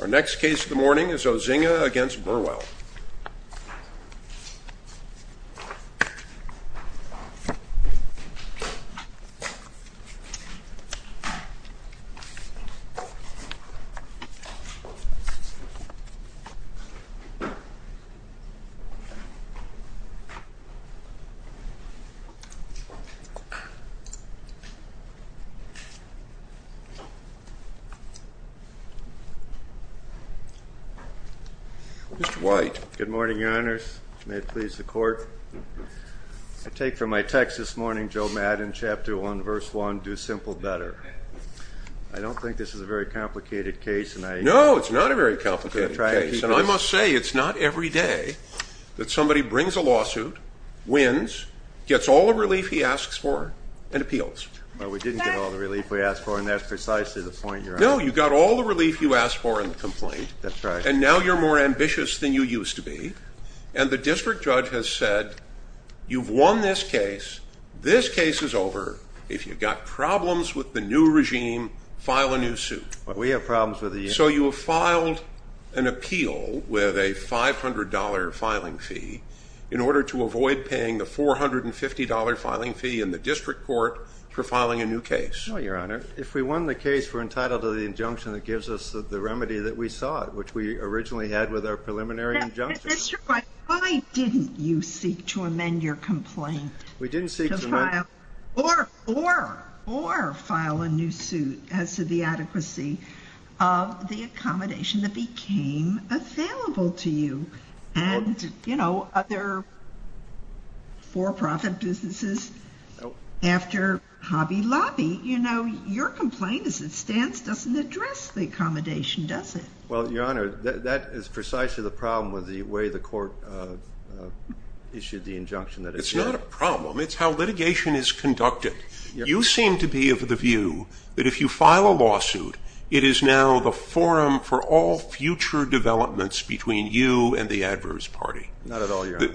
Our next case of the morning is Ozinga v. Burwell. Mr. White Good morning, Your Honors. May it please the Court. I take from my text this morning, Joe Maddon, Chapter 1, Verse 1, Do Simple Better. I don't think this is a very complicated case. No, it's not a very complicated case. And I must say, it's not every day that somebody brings a lawsuit, wins, gets all the relief he asks for, and appeals. Well, we didn't get all the relief we asked for, and that's precisely the point, Your Honor. No, you got all the relief you asked for in the complaint. That's right. And now you're more ambitious than you used to be. And the district judge has said, you've won this case, this case is over. If you've got problems with the new regime, file a new suit. We have problems with the new regime. So you have filed an appeal with a $500 filing fee in order to avoid paying the $450 filing fee in the district court for filing a new case. No, Your Honor. If we won the case, we're entitled to the injunction that gives us the remedy that we sought, which we originally had with our preliminary injunction. That's right. Why didn't you seek to amend your complaint? We didn't seek to amend it. Or file a new suit as to the adequacy of the accommodation that became available to you. And, you know, other for-profit businesses, after Hobby Lobby, you know, your complaint as it stands doesn't address the accommodation, does it? Well, Your Honor, that is precisely the problem with the way the court issued the injunction. It's not a problem. It's how litigation is conducted. You seem to be of the view that if you file a lawsuit, it is now the forum for all future developments between you and the adverse party. Not at all, Your Honor.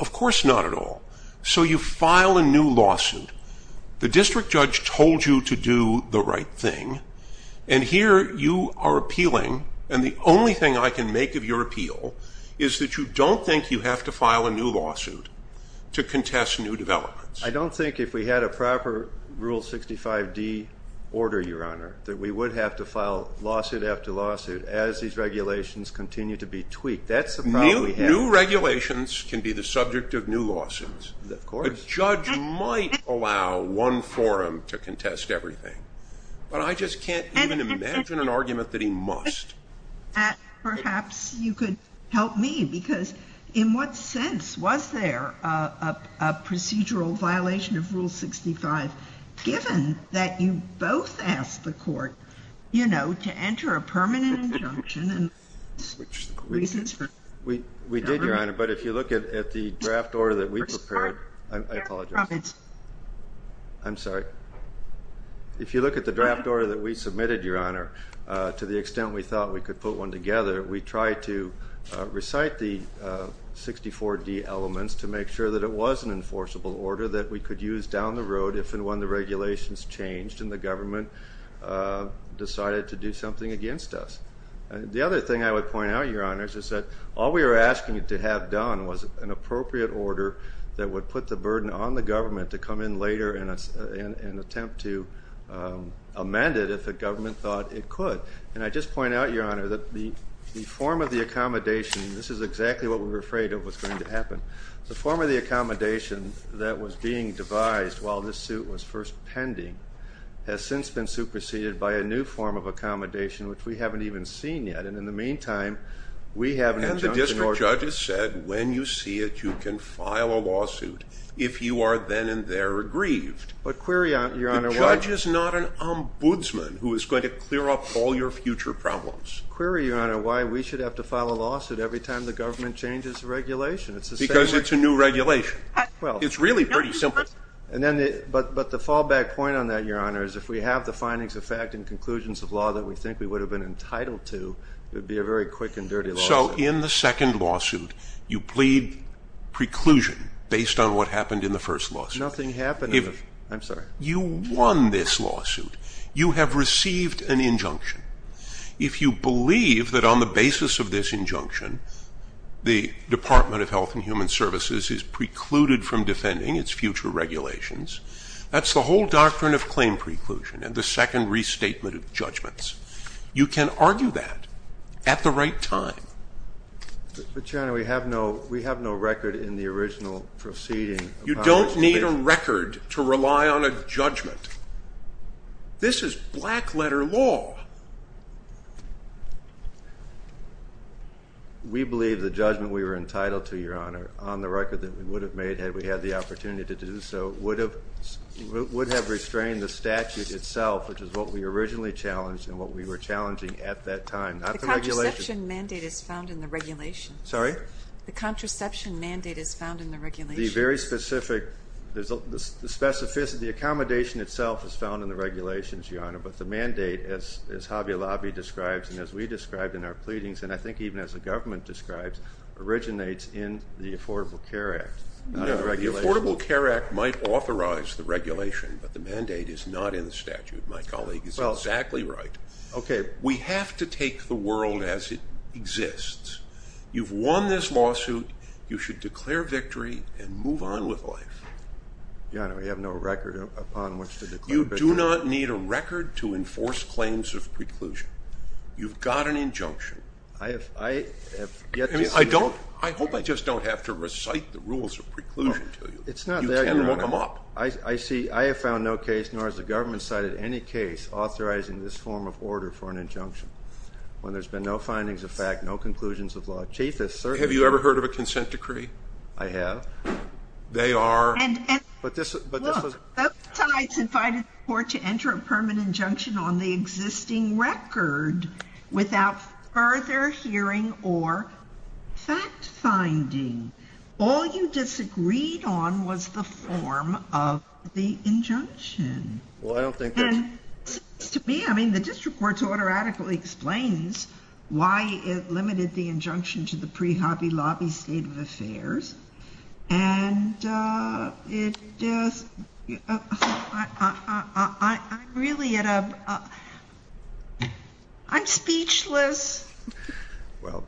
Of course not at all. So you file a new lawsuit. The district judge told you to do the right thing. And here you are appealing, and the only thing I can make of your appeal is that you don't think you have to file a new lawsuit to contest new developments. I don't think if we had a proper Rule 65D order, Your Honor, that we would have to file lawsuit after lawsuit as these regulations continue to be tweaked. That's the problem we have. New regulations can be the subject of new lawsuits. Of course. A judge might allow one forum to contest everything. But I just can't even imagine an argument that he must. Perhaps you could help me. Because in what sense was there a procedural violation of Rule 65, given that you both asked the court, you know, to enter a permanent injunction? We did, Your Honor. But if you look at the draft order that we prepared. I apologize. I'm sorry. If you look at the draft order that we submitted, Your Honor, to the extent we thought we could put one together, we tried to recite the 64D elements to make sure that it was an enforceable order that we could use down the road if and when the regulations changed and the government decided to do something against us. The other thing I would point out, Your Honor, is that all we were asking it to have done was an appropriate order that would put the burden on the government to come in later and attempt to amend it if the government thought it could. And I just point out, Your Honor, that the form of the accommodation, this is exactly what we were afraid of was going to happen. The form of the accommodation that was being devised while this suit was first pending has since been superseded by a new form of accommodation, which we haven't even seen yet. And in the meantime, we have an injunction order. And the district judge has said, when you see it, you can file a lawsuit if you are then and there aggrieved. But query, Your Honor, why— The judge is not an ombudsman who is going to clear up all your future problems. Query, Your Honor, why we should have to file a lawsuit every time the government changes the regulation. Because it's a new regulation. It's really pretty simple. But the fallback point on that, Your Honor, is if we have the findings of fact and conclusions of law that we think we would have been entitled to, it would be a very quick and dirty lawsuit. So in the second lawsuit, you plead preclusion based on what happened in the first lawsuit. Nothing happened. I'm sorry. You won this lawsuit. You have received an injunction. If you believe that on the basis of this injunction, the Department of Health and Human Services is precluded from defending its future regulations, that's the whole doctrine of claim preclusion and the second restatement of judgments. You can argue that at the right time. But, Your Honor, we have no record in the original proceeding. You don't need a record to rely on a judgment. This is black letter law. We believe the judgment we were entitled to, Your Honor, on the record that we would have made had we had the opportunity to do so, would have restrained the statute itself, which is what we originally challenged and what we were challenging at that time. Not the regulation. The contraception mandate is found in the regulation. Sorry? The contraception mandate is found in the regulation. The very specific, the accommodation itself is found in the regulations, Your Honor, but the mandate, as Hobby Lobby describes and as we describe in our pleadings, and I think even as the government describes, originates in the Affordable Care Act. No, the Affordable Care Act might authorize the regulation, but the mandate is not in the statute. My colleague is exactly right. We have to take the world as it exists. You've won this lawsuit. You should declare victory and move on with life. Your Honor, we have no record upon which to declare victory. You do not need a record to enforce claims of preclusion. You've got an injunction. I have yet to see it. I hope I just don't have to recite the rules of preclusion to you. It's not there, Your Honor. You can't look them up. I see. I have found no case, nor has the government cited any case, authorizing this form of order for an injunction. When there's been no findings of fact, no conclusions of law, chiefest certainty. Have you ever heard of a consent decree? I have. They are. Look, both sides invited the court to enter a permanent injunction on the existing record without further hearing or fact finding. All you disagreed on was the form of the injunction. Well, I don't think that's. To me, I mean, the district court's order adequately explains why it limited the injunction to the pre-Hobby Lobby State of Affairs. And I'm really at a, I'm speechless. Well,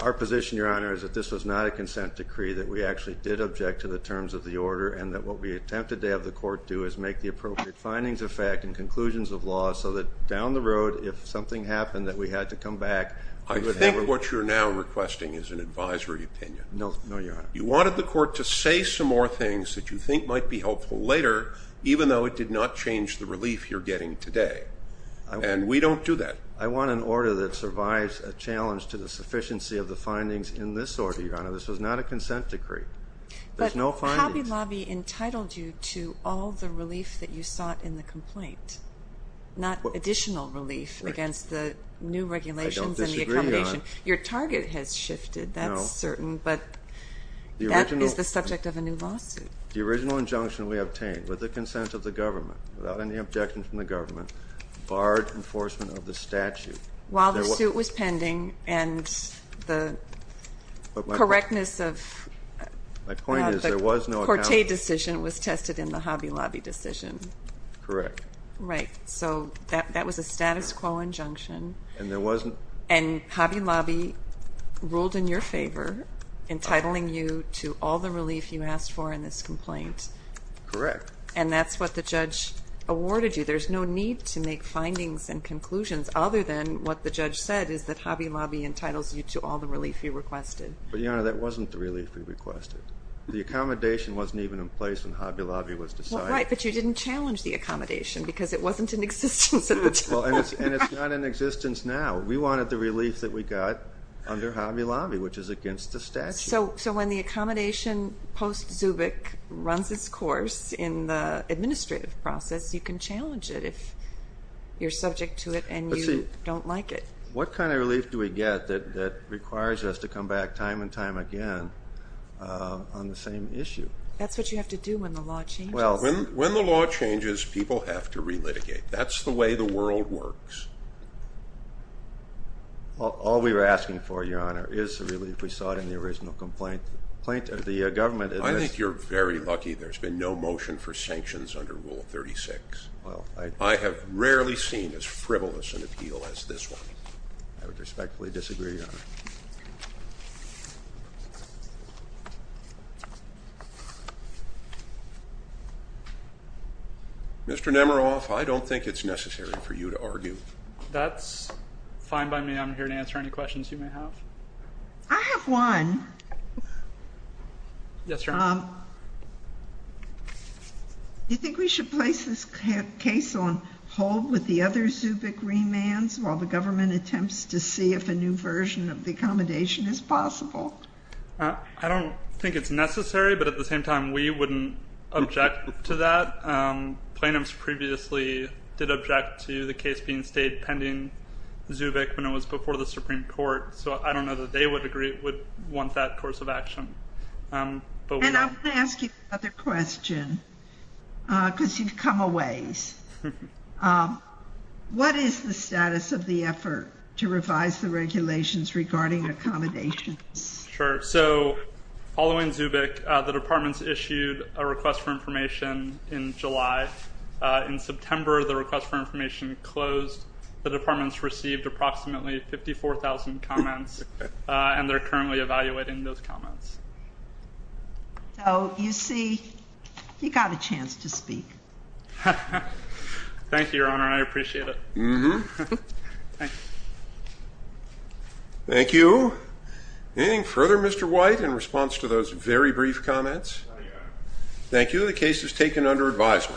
our position, Your Honor, is that this was not a consent decree, that we actually did object to the terms of the order, and that what we attempted to have the court do is make the appropriate findings of fact and conclusions of law, so that down the road, if something happened, that we had to come back. I think what you're now requesting is an advisory opinion. No, Your Honor. You wanted the court to say some more things that you think might be helpful later, even though it did not change the relief you're getting today. And we don't do that. I want an order that survives a challenge to the sufficiency of the findings in this order, Your Honor. This was not a consent decree. There's no findings. But Hobby Lobby entitled you to all the relief that you sought in the complaint, not additional relief against the new regulations and the accommodation. I don't disagree, Your Honor. Your target has shifted, that's certain. No. But that is the subject of a new lawsuit. The original injunction we obtained, with the consent of the government, without any objection from the government, barred enforcement of the statute. While the suit was pending and the correctness of the Corte decision was tested in the Hobby Lobby decision. Correct. Right. So that was a status quo injunction. And Hobby Lobby ruled in your favor, entitling you to all the relief you asked for in this complaint. Correct. And that's what the judge awarded you. There's no need to make findings and conclusions other than what the judge said, is that Hobby Lobby entitles you to all the relief you requested. But, Your Honor, that wasn't the relief we requested. The accommodation wasn't even in place when Hobby Lobby was decided. Right, but you didn't challenge the accommodation because it wasn't in existence at the time. And it's not in existence now. We wanted the relief that we got under Hobby Lobby, which is against the statute. So when the accommodation post-Zubik runs its course in the administrative process, you can challenge it if you're subject to it and you don't like it. What kind of relief do we get that requires us to come back time and time again on the same issue? That's what you have to do when the law changes. When the law changes, people have to relitigate. That's the way the world works. All we were asking for, Your Honor, is relief. We saw it in the original complaint. I think you're very lucky there's been no motion for sanctions under Rule 36. I have rarely seen as frivolous an appeal as this one. I would respectfully disagree, Your Honor. Mr. Nemeroff, I don't think it's necessary for you to argue. That's fine by me. I'm here to answer any questions you may have. I have one. Yes, Your Honor. Do you think we should place this case on hold with the other Zubik remands while the government attempts to see if a new version of the accommodation is possible? I don't think it's necessary, but at the same time, we wouldn't object to that. Plaintiffs previously did object to the case being stayed pending Zubik when it was before the Supreme Court. I don't know that they would want that course of action. I'm going to ask you another question because you've come a ways. What is the status of the effort to revise the regulations regarding accommodations? Sure. So following Zubik, the departments issued a request for information in July. In September, the request for information closed. The departments received approximately 54,000 comments, and they're currently evaluating those comments. So you see, you got a chance to speak. Thank you, Your Honor. I appreciate it. Thank you. Anything further, Mr. White, in response to those very brief comments? No, Your Honor. Thank you. The case is taken under advisement.